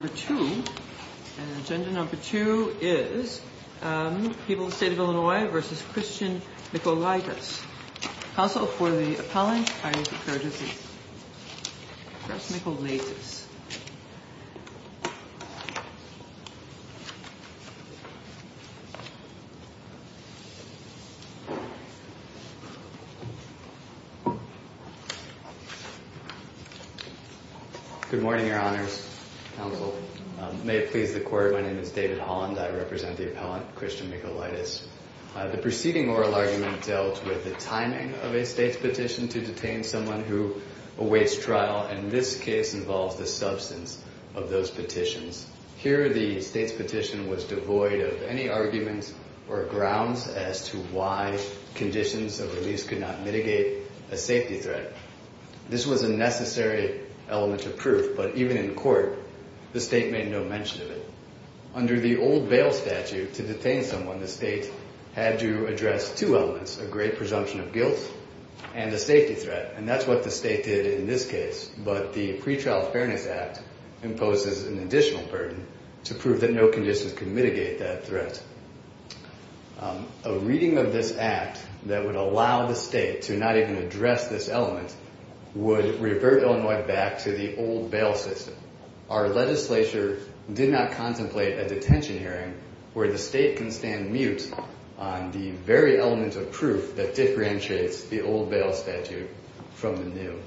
Council for the Appellant, I declare the case. Chris Mikolaitis David Holland The preceding oral argument dealt with the timing of a state's petition to detain someone who awaits trial, and this case involves the substance of those petitions. Here, the state's petition was devoid of any arguments or grounds as to why conditions of release could not mitigate a safety threat. This was a necessary element of proof, but even in court, the state made no mention of it. Under the old bail statute, to detain someone, the state had to address two elements, a great presumption of guilt and a safety threat, and that's what the state did in this case. But the Pretrial Fairness Act imposes an additional burden to prove that no conditions can mitigate that threat. A reading of this act that would allow the state to not even address this element would revert Illinois back to the old bail system. Our legislature did not contemplate a detention hearing where the state can stand mute on the very element of proof that differentiates the old bail statute from the new.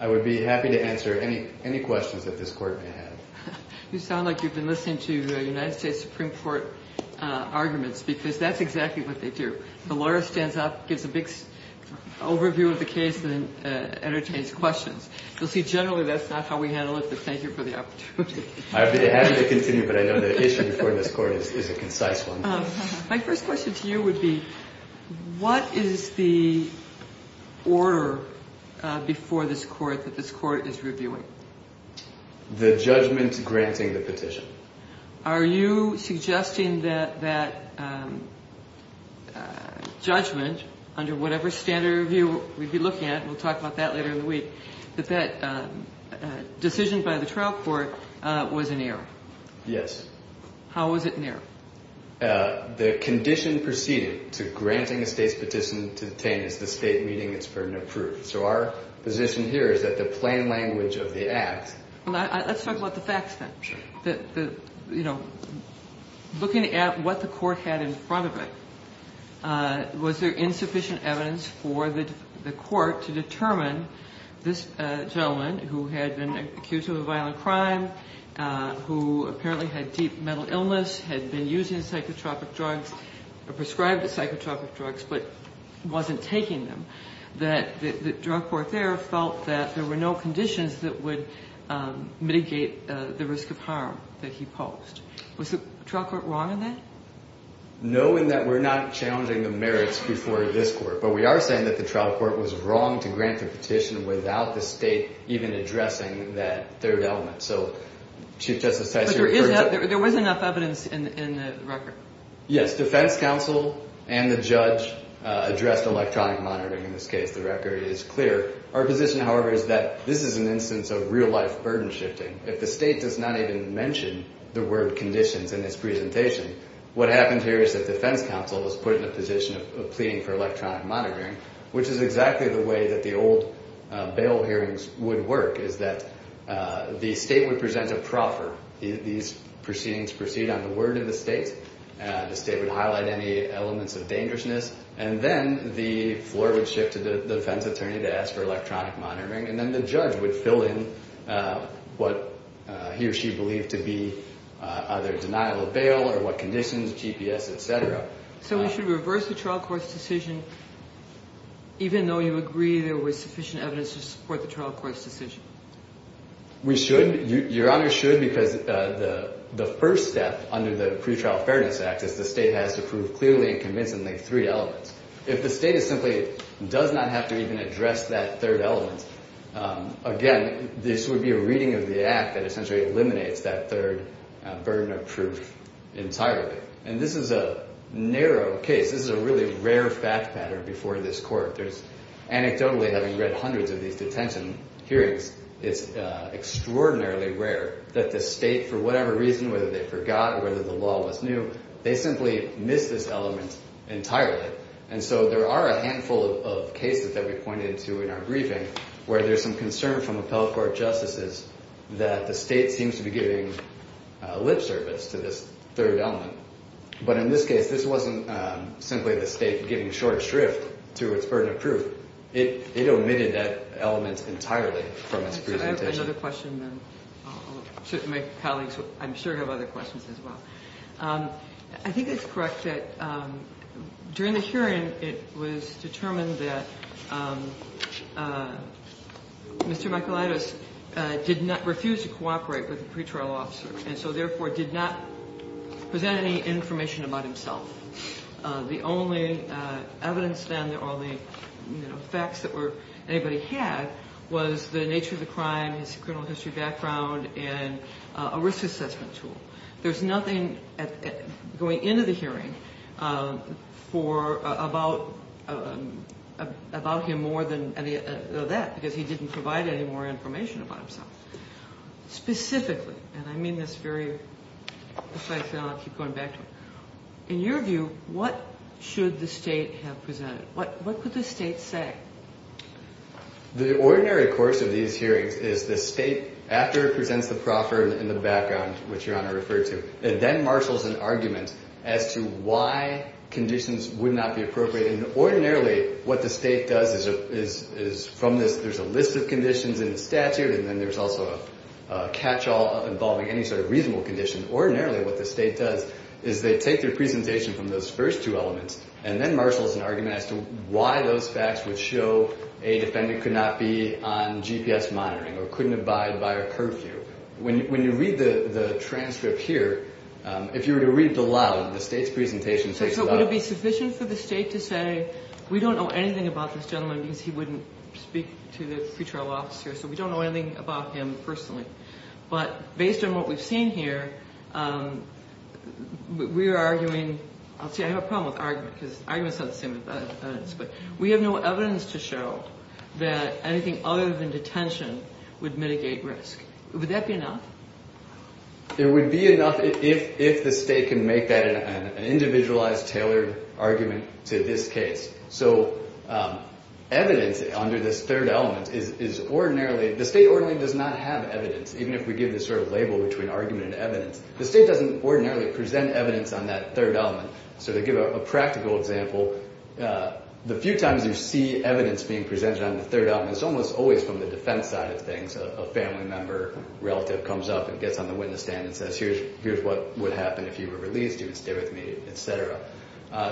I would be happy to answer any questions that this court may have. You sound like you've been listening to United States Supreme Court arguments because that's exactly what they do. The lawyer stands up, gives a big overview of the case, and then entertains questions. You'll see generally that's not how we handle it, but thank you for the opportunity. I would be happy to continue, but I know the issue before this court is a concise one. My first question to you would be what is the order before this court that this court is reviewing? The judgment granting the petition. Are you suggesting that that judgment under whatever standard review we'd be looking at, and we'll talk about that later in the week, that that decision by the trial court was in error? Yes. How was it in error? The condition preceding to granting a state's petition to detain is the state reading its burden of proof. So our position here is that the plain language of the act. Let's talk about the facts then. You know, looking at what the court had in front of it, was there insufficient evidence for the court to determine this gentleman who had been accused of a violent crime, who apparently had deep mental illness, had been using psychotropic drugs, or prescribed psychotropic drugs, but wasn't taking them, that the drug court there felt that there were no conditions that would mitigate the risk of harm that he posed? Was the trial court wrong in that? Knowing that we're not challenging the merits before this court, but we are saying that the trial court was wrong to grant the petition without the state even addressing that third element. But there was enough evidence in the record? Defense counsel and the judge addressed electronic monitoring in this case. The record is clear. Our position, however, is that this is an instance of real-life burden shifting. If the state does not even mention the word conditions in this presentation, what happened here is that defense counsel was put in a position of pleading for electronic monitoring, which is exactly the way that the old bail hearings would work, is that the state would present a proffer. These proceedings proceed on the word of the state. The state would highlight any elements of dangerousness, and then the floor would shift to the defense attorney to ask for electronic monitoring, and then the judge would fill in what he or she believed to be either denial of bail or what conditions, GPS, et cetera. So we should reverse the trial court's decision even though you agree there was sufficient evidence to support the trial court's decision? We should. Your Honor should because the first step under the Pretrial Fairness Act is the state has to prove clearly and convincingly three elements. If the state simply does not have to even address that third element, again, this would be a reading of the act that essentially eliminates that third burden of proof entirely. And this is a narrow case. This is a really rare fact pattern before this court. There's anecdotally, having read hundreds of these detention hearings, it's extraordinarily rare that the state, for whatever reason, whether they forgot or whether the law was new, they simply miss this element entirely. And so there are a handful of cases that we pointed to in our briefing where there's some concern from appellate court justices that the state seems to be giving lip service to this third element. But in this case, this wasn't simply the state giving short shrift to its burden of proof. It omitted that element entirely from its presentation. I have another question then. My colleagues, I'm sure, have other questions as well. I think it's correct that during the hearing, it was determined that Mr. Michaelides did not refuse to cooperate with the pretrial officer, and so therefore did not present any information about himself. The only evidence then or the facts that anybody had was the nature of the crime, his criminal history background, and a risk assessment tool. There's nothing going into the hearing about him more than that, because he didn't provide any more information about himself. Specifically, and I mean this very precisely, and I'll keep going back to it, in your view, what should the state have presented? What could the state say? The ordinary course of these hearings is the state, after it presents the proffer in the background, which Your Honor referred to, then marshals an argument as to why conditions would not be appropriate. And ordinarily, what the state does is from this, there's a list of conditions in the statute, and then there's also a catch-all involving any sort of reasonable condition. Ordinarily, what the state does is they take their presentation from those first two elements and then marshals an argument as to why those facts would show a defendant could not be on GPS monitoring or couldn't abide by a curfew. When you read the transcript here, if you were to read it aloud, the state's presentation takes it out. So it would be sufficient for the state to say, we don't know anything about this gentleman because he wouldn't speak to the pretrial officer, so we don't know anything about him personally. But based on what we've seen here, we are arguing, I'll tell you, I have a problem with argument because argument is not the same as evidence. But we have no evidence to show that anything other than detention would mitigate risk. Would that be enough? It would be enough if the state can make that an individualized, tailored argument to this case. So evidence under this third element is ordinarily, the state ordinarily does not have evidence, even if we give this sort of label between argument and evidence. The state doesn't ordinarily present evidence on that third element. So to give a practical example, the few times you see evidence being presented on the third element, it's almost always from the defense side of things. A family member relative comes up and gets on the witness stand and says, here's what would happen if you were released, you would stay with me, et cetera.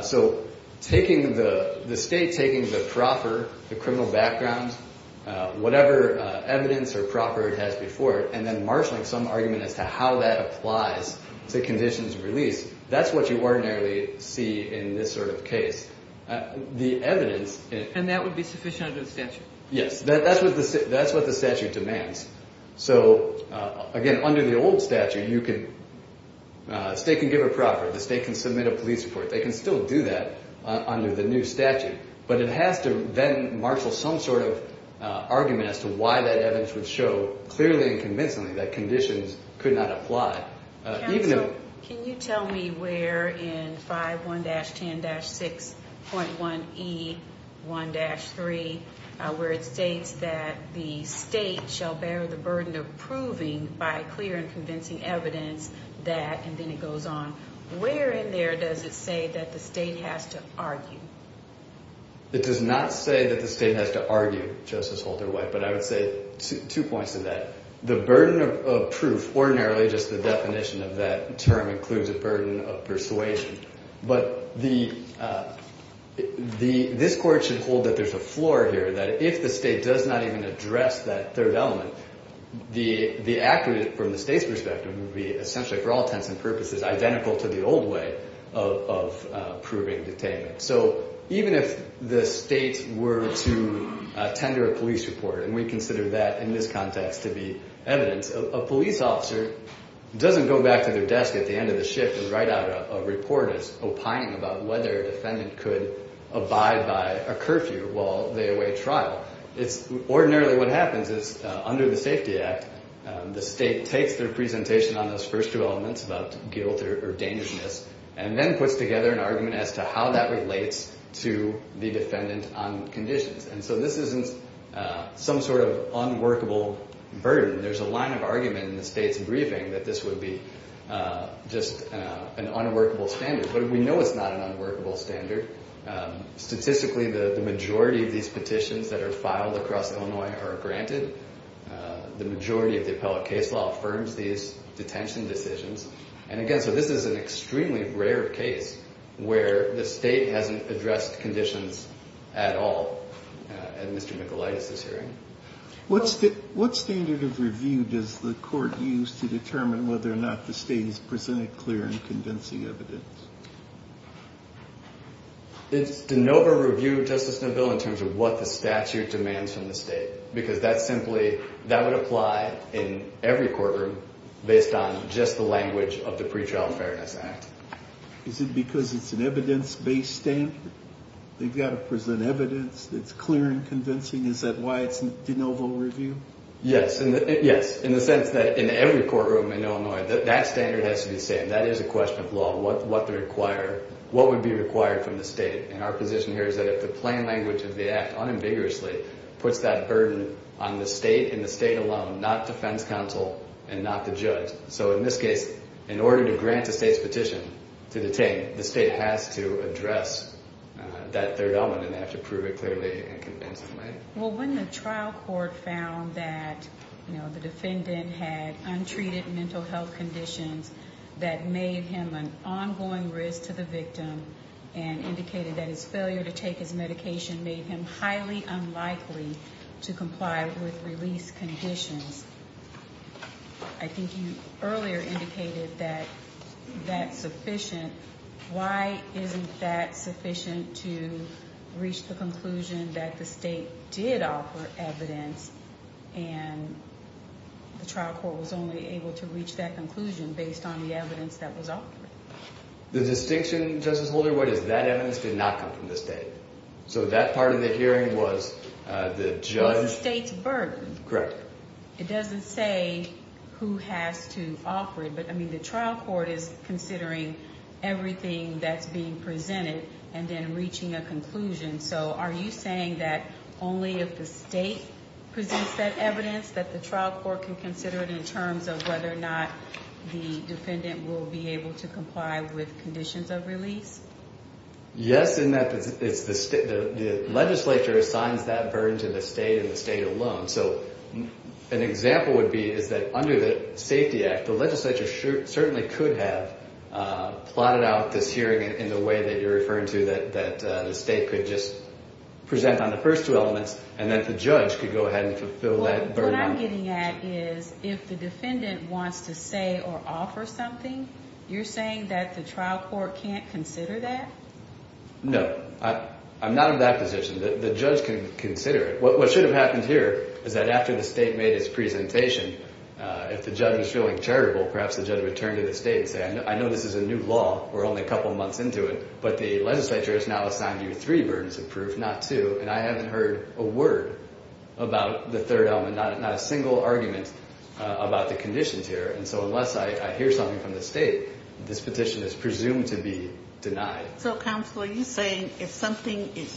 So the state taking the proper criminal background, whatever evidence or proper it has before it, and then marshalling some argument as to how that applies to conditions of release, that's what you ordinarily see in this sort of case. And that would be sufficient under the statute? Yes, that's what the statute demands. So again, under the old statute, the state can give a proper, the state can submit a police report, they can still do that under the new statute. But it has to then marshal some sort of argument as to why that evidence would show clearly and convincingly that conditions could not apply. Counsel, can you tell me where in 5-1-10-6.1E1-3, where it states that the state shall bear the burden of proving by clear and convincing evidence that, and then it goes on, where in there does it say that the state has to argue? It does not say that the state has to argue, Justice Holder-White, but I would say two points to that. The burden of proof, ordinarily just the definition of that term includes a burden of persuasion. But this Court should hold that there's a floor here, that if the state does not even address that third element, the act from the state's perspective would be essentially, for all intents and purposes, identical to the old way of proving detainment. So even if the state were to tender a police report, and we consider that in this context to be evidence, a police officer doesn't go back to their desk at the end of the shift and write out a report as opining about whether a defendant could abide by a curfew while they await trial. Ordinarily what happens is, under the Safety Act, the state takes their presentation on those first two elements, about guilt or dangerousness, and then puts together an argument as to how that relates to the defendant on conditions. And so this isn't some sort of unworkable burden. There's a line of argument in the state's briefing that this would be just an unworkable standard. But we know it's not an unworkable standard. Statistically, the majority of these petitions that are filed across Illinois are granted. The majority of the appellate case law affirms these detention decisions. And again, so this is an extremely rare case where the state hasn't addressed conditions at all at Mr. McElytus's hearing. What standard of review does the court use to determine whether or not the state has presented clear and convincing evidence? It's de novo review, Justice Neville, in terms of what the statute demands from the state. Because that simply, that would apply in every courtroom based on just the language of the Pretrial Fairness Act. Is it because it's an evidence-based standard? They've got to present evidence that's clear and convincing. Is that why it's de novo review? Yes, in the sense that in every courtroom in Illinois, that standard has to be the same. That is a question of law. What would be required from the state? And our position here is that if the plain language of the act unambiguously puts that burden on the state and the state alone, not defense counsel and not the judge. So in this case, in order to grant the state's petition to detain, the state has to address that third element, and they have to prove it clearly and convincingly. Well, when the trial court found that the defendant had untreated mental health conditions that made him an ongoing risk to the victim and indicated that his failure to take his medication made him highly unlikely to comply with release conditions, I think you earlier indicated that that's sufficient. Why isn't that sufficient to reach the conclusion that the state did offer evidence and the trial court was only able to reach that conclusion based on the evidence that was offered? The distinction, Justice Holder, what is that evidence did not come from the state. So that part of the hearing was the judge... It was the state's burden. Correct. It doesn't say who has to offer it, but, I mean, the trial court is considering everything that's being presented and then reaching a conclusion. So are you saying that only if the state presents that evidence that the trial court can consider it in terms of whether or not the defendant will be able to comply with conditions of release? Yes, in that the legislature assigns that burden to the state and the state alone. So an example would be is that under the Safety Act, the legislature certainly could have plotted out this hearing in the way that you're referring to that the state could just present on the first two elements and that the judge could go ahead and fulfill that burden. Well, what I'm getting at is if the defendant wants to say or offer something, you're saying that the trial court can't consider that? No, I'm not in that position. The judge can consider it. What should have happened here is that after the state made its presentation, if the judge was feeling charitable, perhaps the judge would turn to the state and say, I know this is a new law, we're only a couple months into it, but the legislature has now assigned you three burdens of proof, not two, and I haven't heard a word about the third element, not a single argument about the conditions here. And so unless I hear something from the state, this petition is presumed to be denied. So, counsel, are you saying if something is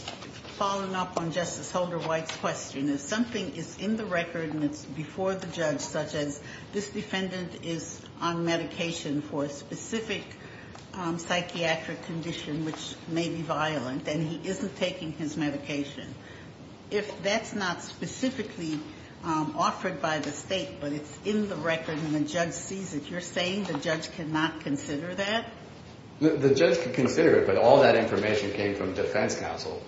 following up on Justice Holder White's question, if something is in the record and it's before the judge, such as this defendant is on medication for a specific psychiatric condition which may be violent and he isn't taking his medication, if that's not specifically offered by the state but it's in the record and the judge sees it, you're saying the judge cannot consider that? The judge can consider it, but all that information came from defense counsel.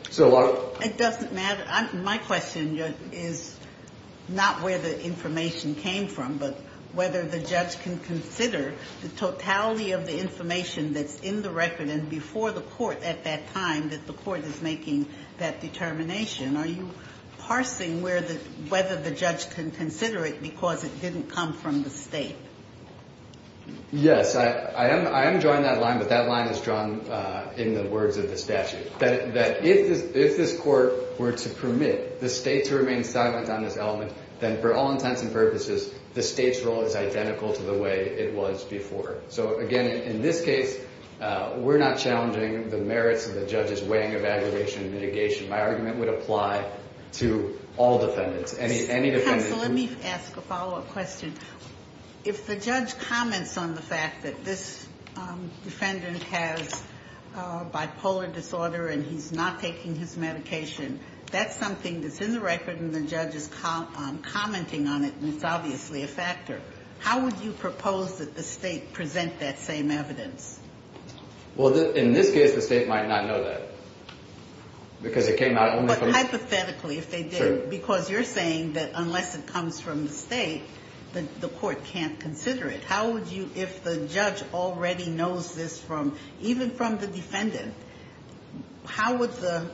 It doesn't matter. My question is not where the information came from, but whether the judge can consider the totality of the information that's in the record and before the court at that time that the court is making that determination. Are you parsing whether the judge can consider it because it didn't come from the state? Yes. I am drawing that line, but that line is drawn in the words of the statute, that if this court were to permit the state to remain silent on this element, then for all intents and purposes, the state's role is identical to the way it was before. So, again, in this case, we're not challenging the merits of the judge's weighing of aggregation and mitigation. My argument would apply to all defendants, any defendant. Counsel, let me ask a follow-up question. If the judge comments on the fact that this defendant has bipolar disorder and he's not taking his medication, that's something that's in the record and the judge is commenting on it and it's obviously a factor. How would you propose that the state present that same evidence? Well, in this case, the state might not know that because it came out only from the state. But hypothetically, if they did, because you're saying that unless it comes from the state, the court can't consider it. How would you, if the judge already knows this from, even from the defendant, how would the,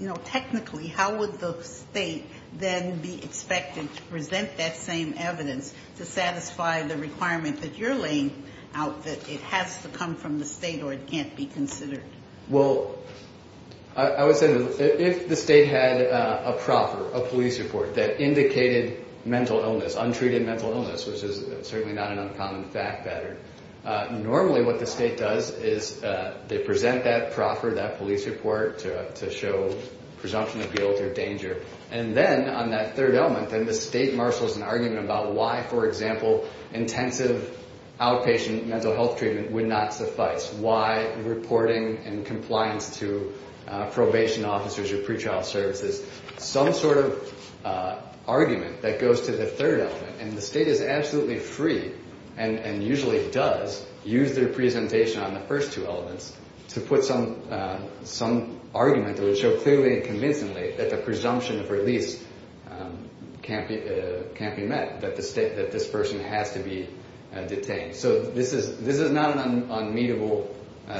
you know, technically, how would the state then be expected to present that same evidence to satisfy the requirement that you're laying out that it has to come from the state or it can't be considered? Well, I would say that if the state had a proffer, a police report that indicated mental illness, untreated mental illness, which is certainly not an uncommon fact pattern, normally what the state does is they present that proffer, that police report to show presumption of guilt or danger. And then on that third element, then the state marshals an argument about why, for example, intensive outpatient mental health treatment would not suffice, why reporting and compliance to probation officers or pretrial services, some sort of argument that goes to the third element. And the state is absolutely free and usually does use their presentation on the first two elements to put some argument that would show clearly and convincingly that the presumption of release can't be met, that this person has to be detained. So this is not an unmeetable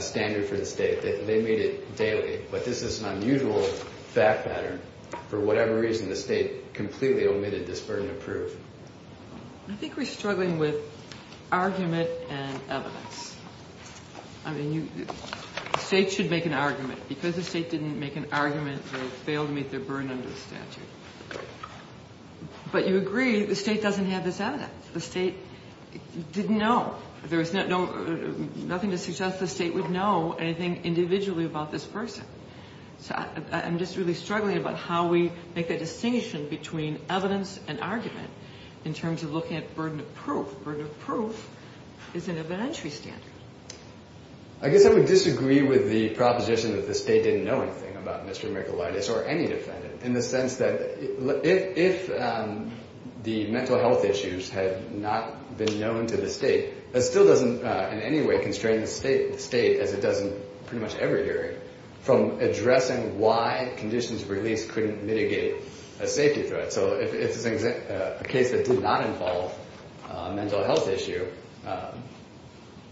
standard for the state. They meet it daily. But this is an unusual fact pattern. For whatever reason, the state completely omitted this burden of proof. I think we're struggling with argument and evidence. I mean, the state should make an argument. Because the state didn't make an argument, they failed to meet their burden under the statute. But you agree the state doesn't have this evidence. The state didn't know. There was nothing to suggest the state would know anything individually about this person. So I'm just really struggling about how we make a distinction between evidence and argument in terms of looking at burden of proof. It's an evidentiary standard. I guess I would disagree with the proposition that the state didn't know anything about Mr. Michalaitis or any defendant, in the sense that if the mental health issues had not been known to the state, that still doesn't in any way constrain the state, as it does in pretty much every hearing, from addressing why conditions of release couldn't mitigate a safety threat. So if it's a case that did not involve a mental health issue,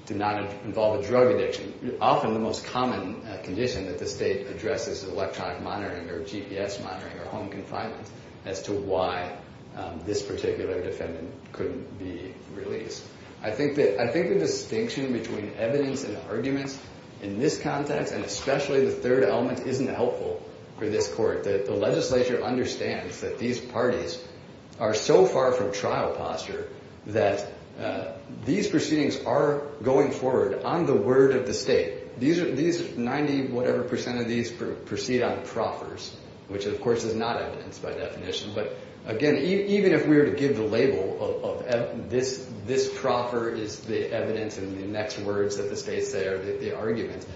did not involve a drug addiction, often the most common condition that the state addresses is electronic monitoring or GPS monitoring or home confinement, as to why this particular defendant couldn't be released. I think the distinction between evidence and argument in this context, and especially the third element, isn't helpful for this Court. The legislature understands that these parties are so far from trial posture that these proceedings are going forward on the word of the state. These 90-whatever percent of these proceed on proffers, which of course is not evidence by definition. But again, even if we were to give the label of this proffer is the evidence and the next words that the state say are the arguments,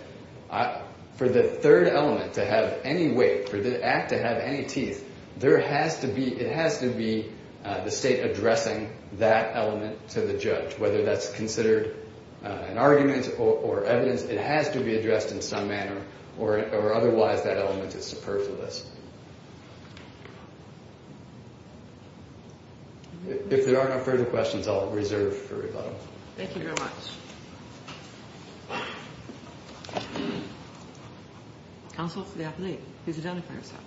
for the third element to have any weight, for the act to have any teeth, it has to be the state addressing that element to the judge. Whether that's considered an argument or evidence, it has to be addressed in some manner, or otherwise that element is superfluous. If there are no further questions, I'll reserve for rebuttal. Thank you very much. Counsel, please identify yourself.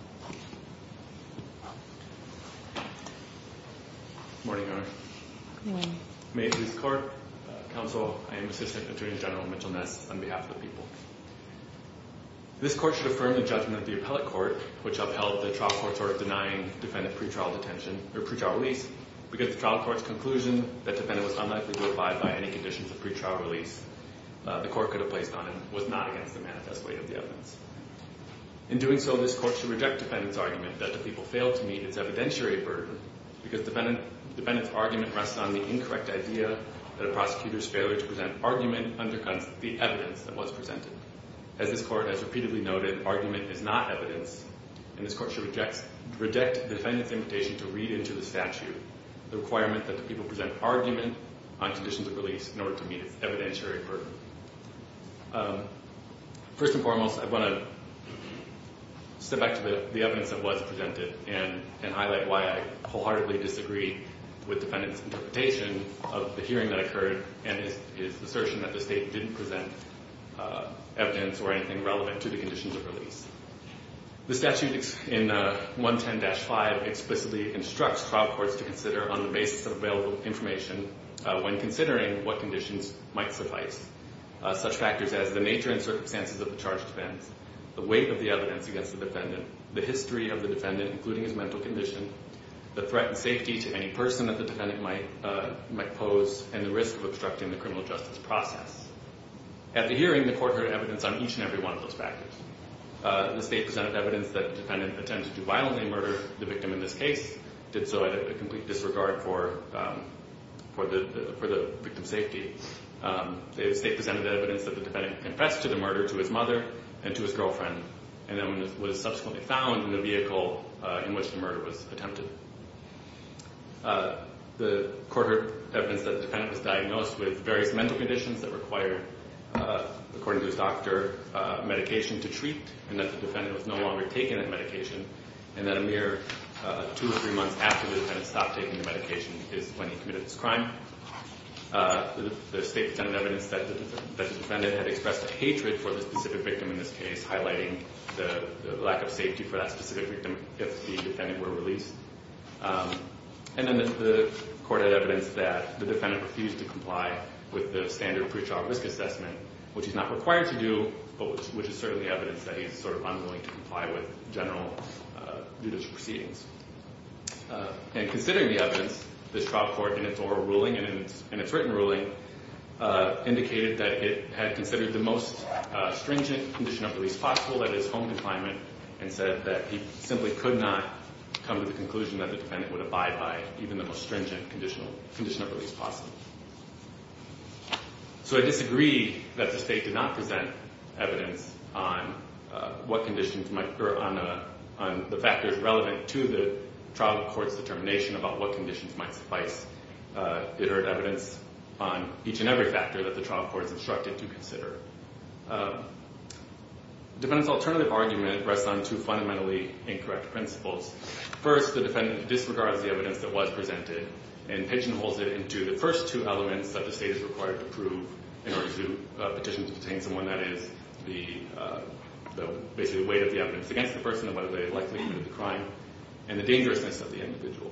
Good morning, Your Honor. Good morning. May it please the Court. Counsel, I am Assistant Attorney General Mitchell Ness, on behalf of the people. This Court should affirm the judgment of the appellate court, which upheld the trial court's order denying defendant pretrial release, because the trial court's conclusion that defendant was unlikely to abide by any conditions of pretrial release, the Court could have placed on him, was not against the manifest way of the evidence. In doing so, this Court should reject defendant's argument that the people failed to meet its evidentiary burden, because defendant's argument rests on the incorrect idea that a prosecutor's failure to present argument undercuts the evidence that was presented. As this Court has repeatedly noted, argument is not evidence, and this Court should reject defendant's invitation to read into the statute the requirement that the people present argument on conditions of release in order to meet its evidentiary burden. First and foremost, I want to step back to the evidence that was presented and highlight why I wholeheartedly disagree with defendant's interpretation of the hearing that occurred and his assertion that the State didn't present evidence or anything relevant to the conditions of release. The statute in 110-5 explicitly instructs trial courts to consider on the basis of available information when considering what conditions might suffice, such factors as the nature and circumstances of the charge defense, the weight of the evidence against the defendant, the history of the defendant, including his mental condition, the threat and safety to any person that the defendant might pose, and the risk of obstructing the criminal justice process. At the hearing, the Court heard evidence on each and every one of those factors. The State presented evidence that the defendant attempted to violently murder the victim in this case, did so out of complete disregard for the victim's safety. The State presented evidence that the defendant confessed to the murder to his mother and to his girlfriend, and then was subsequently found in the vehicle in which the murder was attempted. The Court heard evidence that the defendant was diagnosed with various mental conditions that required, according to his doctor, medication to treat, and that the defendant was no longer taking that medication, and that a mere two or three months after the defendant stopped taking the medication is when he committed this crime. The State presented evidence that the defendant had expressed a hatred for the specific victim in this case, highlighting the lack of safety for that specific victim if the defendant were released. And then the Court had evidence that the defendant refused to comply with the standard pre-trial risk assessment, which is not required to do, but which is certainly evidence that he is sort of unwilling to comply with general judicial proceedings. And considering the evidence, this trial court, in its oral ruling and in its written ruling, indicated that it had considered the most stringent condition of release possible, that is, home confinement, and said that he simply could not come to the conclusion that the defendant would abide by even the most stringent condition of release possible. So I disagree that the State did not present evidence on what conditions might— or on the factors relevant to the trial court's determination about what conditions might suffice. It heard evidence on each and every factor that the trial court is instructed to consider. The defendant's alternative argument rests on two fundamentally incorrect principles. First, the defendant disregards the evidence that was presented and pigeonholes it into the first two elements that the State is required to prove in order to petition to detain someone, that is, the weight of the evidence against the person and whether they had likely committed the crime, and the dangerousness of the individual.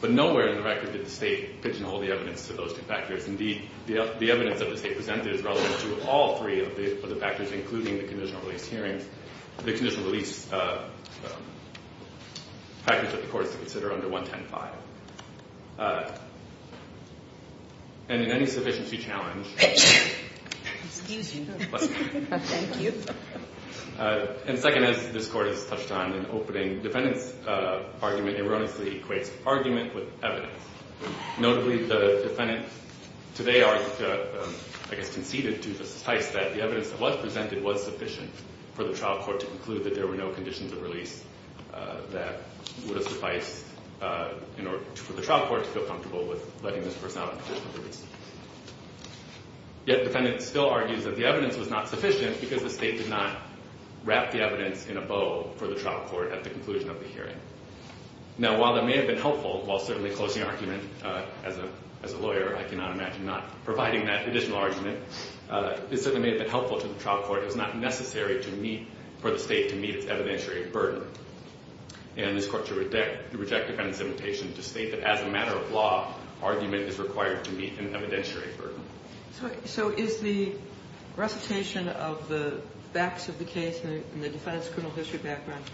But nowhere in the record did the State pigeonhole the evidence to those two factors. Indeed, the evidence that the State presented is relevant to all three of the factors, including the conditional release hearings—the conditional release factors that the Court is to consider under 110-5. And in any sufficiency challenge— Excuse me. Thank you. And second, as this Court has touched on in opening, the defendant's argument erroneously equates argument with evidence. Notably, the defendant today argued—I guess conceded to the suffice that the evidence that was presented was sufficient for the trial court to conclude that there were no conditions of release that would have sufficed in order for the trial court to feel comfortable with letting this person out on conditional release. Yet the defendant still argues that the evidence was not sufficient because the State did not wrap the evidence in a bow for the trial court at the conclusion of the hearing. Now, while that may have been helpful, while certainly closing argument—as a lawyer, I cannot imagine not providing that additional argument— it certainly may have been helpful to the trial court. It was not necessary for the State to meet its evidentiary burden. And this Court should reject the defendant's invitation to state that as a matter of law, argument is required to meet an evidentiary burden. So is the recitation of the facts of the case in the defendant's criminal history background—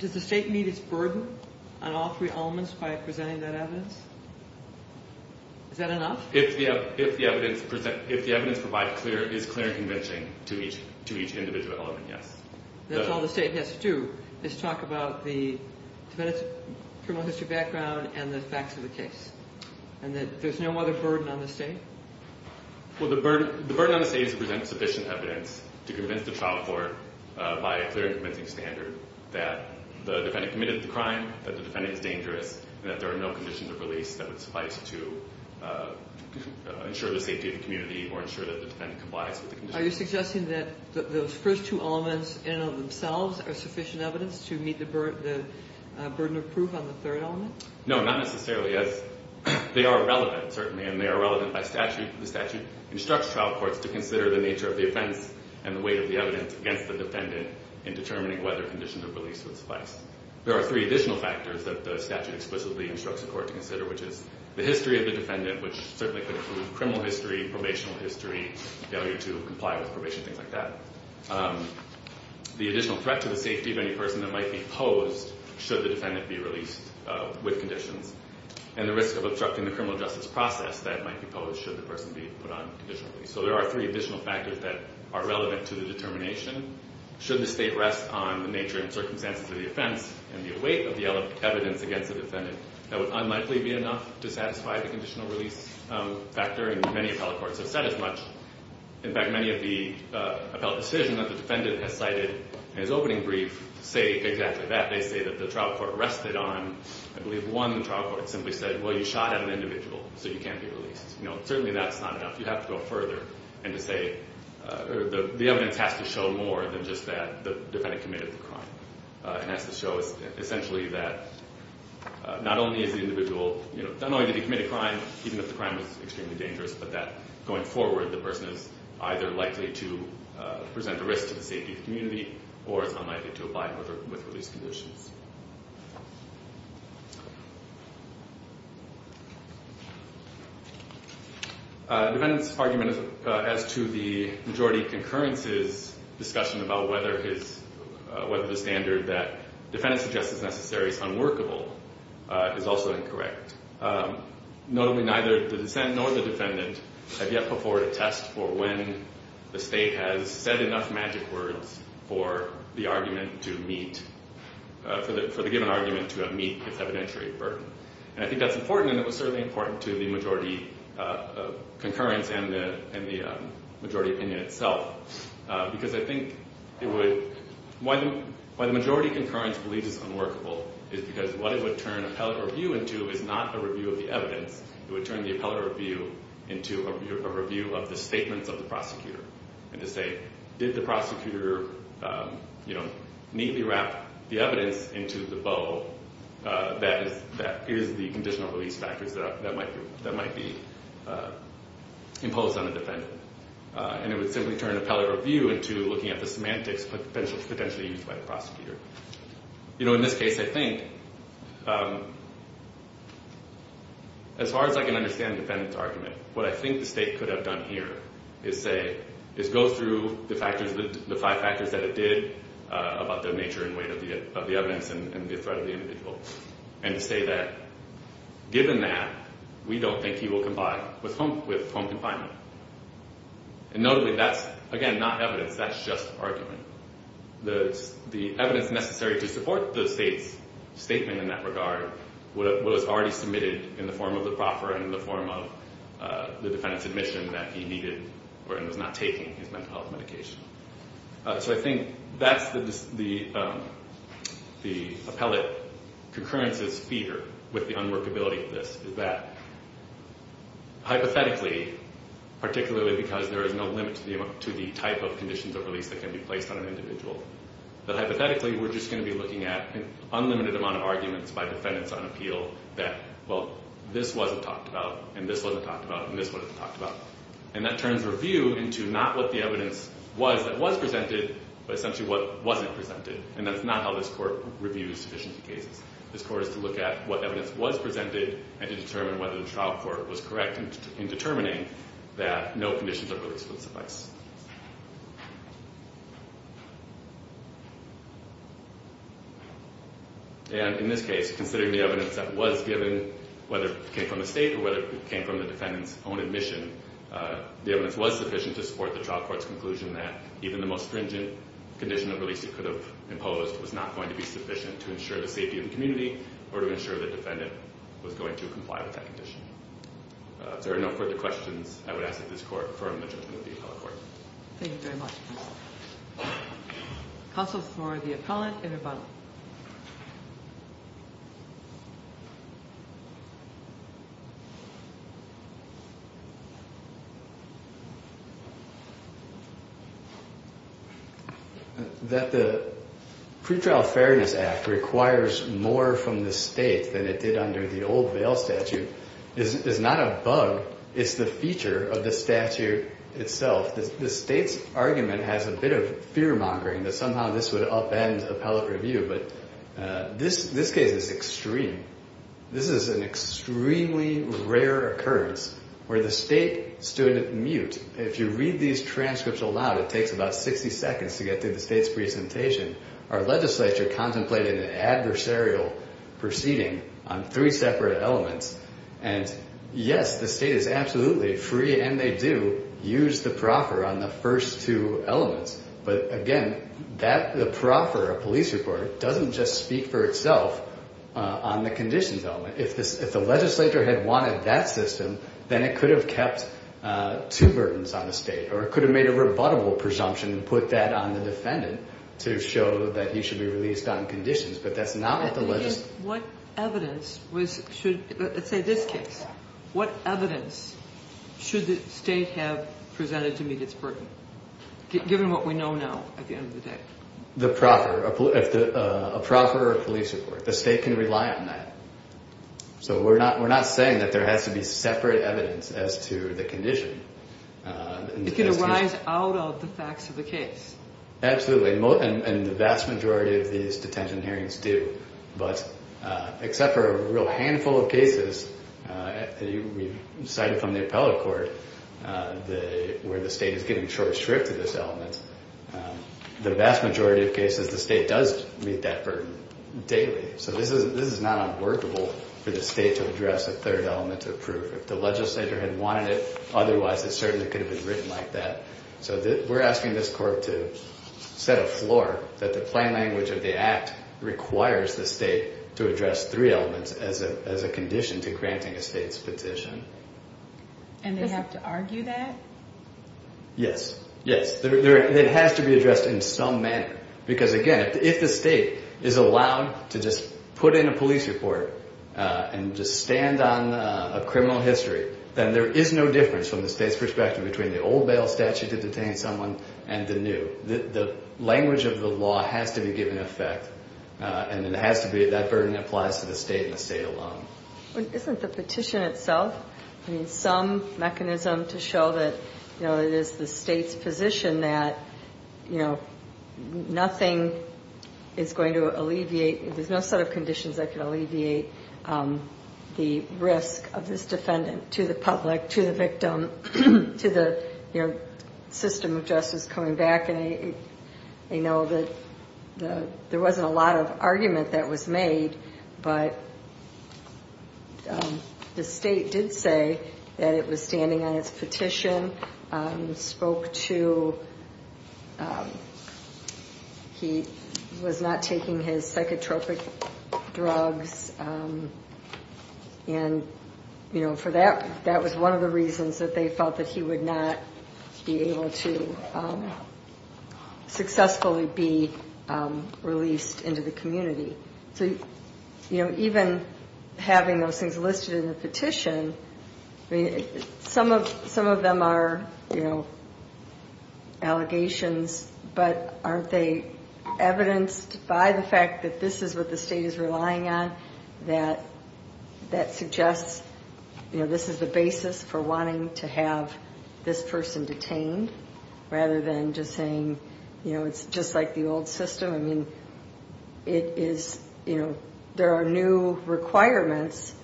does the State meet its burden on all three elements by presenting that evidence? Is that enough? If the evidence provided is clear and convincing to each individual element, yes. That's all the State has to do, is talk about the defendant's criminal history background and the facts of the case, and that there's no other burden on the State? Well, the burden on the State is to present sufficient evidence to convince the trial court, by a clear and convincing standard, that the defendant committed the crime, that the defendant is dangerous, and that there are no conditions of release that would suffice to ensure the safety of the community or ensure that the defendant complies with the conditions. Are you suggesting that those first two elements in and of themselves are sufficient evidence to meet the burden of proof on the third element? No, not necessarily. They are relevant, certainly, and they are relevant by statute. The statute instructs trial courts to consider the nature of the offense and the weight of the evidence against the defendant in determining whether conditions of release would suffice. There are three additional factors that the statute explicitly instructs a court to consider, which is the history of the defendant, which certainly could include criminal history, probation history, failure to comply with probation, things like that, the additional threat to the safety of any person that might be posed should the defendant be released with conditions, and the risk of obstructing the criminal justice process that might be posed should the person be put on conditional release. So there are three additional factors that are relevant to the determination. Should the State rest on the nature and circumstances of the offense and the weight of the evidence against the defendant, that would unlikely be enough to satisfy the conditional release factor, and many appellate courts have said as much. In fact, many of the appellate decisions that the defendant has cited in his opening brief say exactly that. They say that the trial court rested on, I believe one trial court simply said, well, you shot at an individual, so you can't be released. Certainly that's not enough. You have to go further and to say the evidence has to show more than just that the defendant committed the crime. It has to show essentially that not only is the individual, not only did he commit a crime, even if the crime was extremely dangerous, but that going forward, the person is either likely to present a risk to the safety of the community or is unlikely to comply with release conditions. The defendant's argument as to the majority concurrence's discussion about whether the standard that the defendant suggests is necessary is unworkable is also incorrect. Notably, neither the dissent nor the defendant have yet put forward a test for when the State has said enough magic words for the argument to meet. For the given argument to meet its evidentiary burden. And I think that's important and it was certainly important to the majority concurrence and the majority opinion itself. Because I think why the majority concurrence believes it's unworkable is because what it would turn appellate review into is not a review of the evidence. It would turn the appellate review into a review of the statements of the prosecutor. And to say, did the prosecutor neatly wrap the evidence into the bow that is the conditional release factors that might be imposed on the defendant. And it would simply turn appellate review into looking at the semantics potentially used by the prosecutor. In this case, I think, as far as I can understand the defendant's argument, what I think the State could have done here is say, is go through the factors, the five factors that it did about the nature and weight of the evidence and the threat of the individual. And to say that, given that, we don't think he will comply with home confinement. And notably that's, again, not evidence, that's just argument. The evidence necessary to support the State's statement in that regard was already submitted in the form of the proffer and in the form of the defendant's admission that he needed and was not taking his mental health medication. So I think that's the appellate concurrence's fear with the unworkability of this. Hypothetically, particularly because there is no limit to the type of conditions of release that can be placed on an individual. But hypothetically, we're just going to be looking at an unlimited amount of arguments by defendants on appeal that, well, this wasn't talked about, and this wasn't talked about, and this wasn't talked about. And that turns review into not what the evidence was that was presented, but essentially what wasn't presented. And that's not how this court reviews sufficiency cases. This court is to look at what evidence was presented and to determine whether the trial court was correct in determining that no conditions of release would suffice. And in this case, considering the evidence that was given, whether it came from the State or whether it came from the defendant's own admission, the evidence was sufficient to support the trial court's conclusion that even the most stringent condition of release it could have imposed was not going to be sufficient to ensure the safety of the community or to ensure the defendant was going to comply with that condition. If there are no further questions, I would ask that this court affirm the judgment of the appellate court. Thank you very much. Counsel for the appellate and rebuttal. That the Pretrial Fairness Act requires more from the State than it did under the old Vale statute is not a bug. It's the feature of the statute itself. The State's argument has a bit of fear-mongering that somehow this would upend appellate review. But this case is extreme. This is an extremely rare occurrence where the State stood at mute. If you read these transcripts aloud, it takes about 60 seconds to get through the State's presentation. Our legislature contemplated an adversarial proceeding on three separate elements. And yes, the State is absolutely free, and they do use the proffer on the first two elements. But, again, the proffer, a police report, doesn't just speak for itself on the conditions element. If the legislature had wanted that system, then it could have kept two burdens on the State. Or it could have made a rebuttable presumption and put that on the defendant to show that he should be released on conditions. But that's not what the legislature— What evidence should—let's say this case. What evidence should the State have presented to meet its burden? Given what we know now at the end of the day. The proffer, a proffer or a police report. The State can rely on that. So we're not saying that there has to be separate evidence as to the condition. It can arise out of the facts of the case. Absolutely. And the vast majority of these detention hearings do. But except for a real handful of cases, we've cited from the appellate court, where the State is giving short shrift to this element. The vast majority of cases, the State does meet that burden daily. So this is not unworkable for the State to address a third element of proof. If the legislature had wanted it, otherwise it certainly could have been written like that. So we're asking this court to set a floor that the plain language of the act requires the State to address three elements as a condition to granting a State's petition. And they have to argue that? Yes. Yes. It has to be addressed in some manner. Because, again, if the State is allowed to just put in a police report and just stand on a criminal history, then there is no difference from the State's perspective between the old bail statute to detain someone and the new. The language of the law has to be given effect. And it has to be that burden applies to the State and the State alone. Isn't the petition itself some mechanism to show that it is the State's position that nothing is going to alleviate, there's no set of conditions that can alleviate the risk of this defendant to the public, to the victim, to the system of justice coming back? I know that there wasn't a lot of argument that was made, but the State did say that it was standing on its petition, spoke to, he was not taking his psychotropic drugs. And for that, that was one of the reasons that they felt that he would not be able to successfully be released into the community. So, you know, even having those things listed in the petition, some of them are, you know, allegations, but aren't they evidenced by the fact that this is what the State is relying on, that suggests, you know, this is the basis for wanting to have this person detained, rather than just saying, you know, it's just like the old system. I mean, it is, you know, there are new requirements,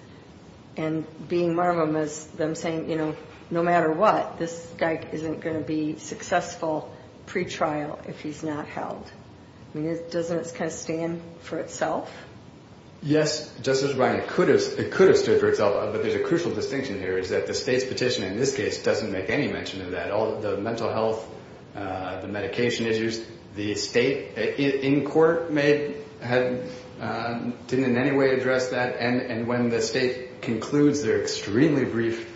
and being Marvum is them saying, you know, no matter what, this guy isn't going to be successful pretrial if he's not held. I mean, doesn't it kind of stand for itself? Yes, Justice Ryan, it could have stood for itself. But there's a crucial distinction here, is that the State's petition in this case doesn't make any mention of that. All the mental health, the medication issues, the State in court didn't in any way address that. And when the State concludes their extremely brief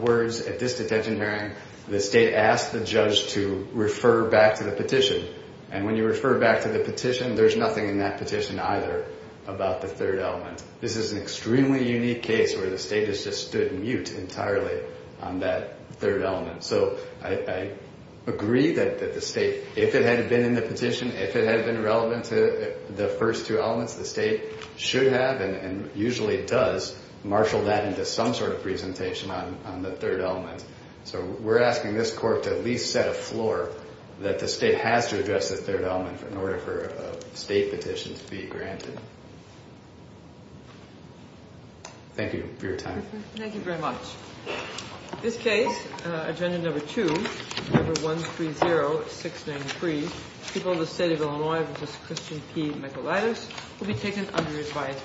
words at this detention hearing, the State asked the judge to refer back to the petition. And when you refer back to the petition, there's nothing in that petition either about the third element. This is an extremely unique case where the State has just stood mute entirely on that third element. So I agree that the State, if it had been in the petition, if it had been relevant to the first two elements, the State should have and usually does marshal that into some sort of presentation on the third element. So we're asking this court to at least set a floor that the State has to address the third element in order for a State petition to be granted. Thank you for your time. Thank you very much. In this case, agenda number two, number 130693, people of the State of Illinois v. Christian P. McElytus will be taken under his bias.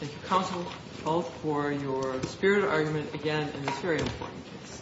Thank you, counsel, both for your spirit argument again in this very important case.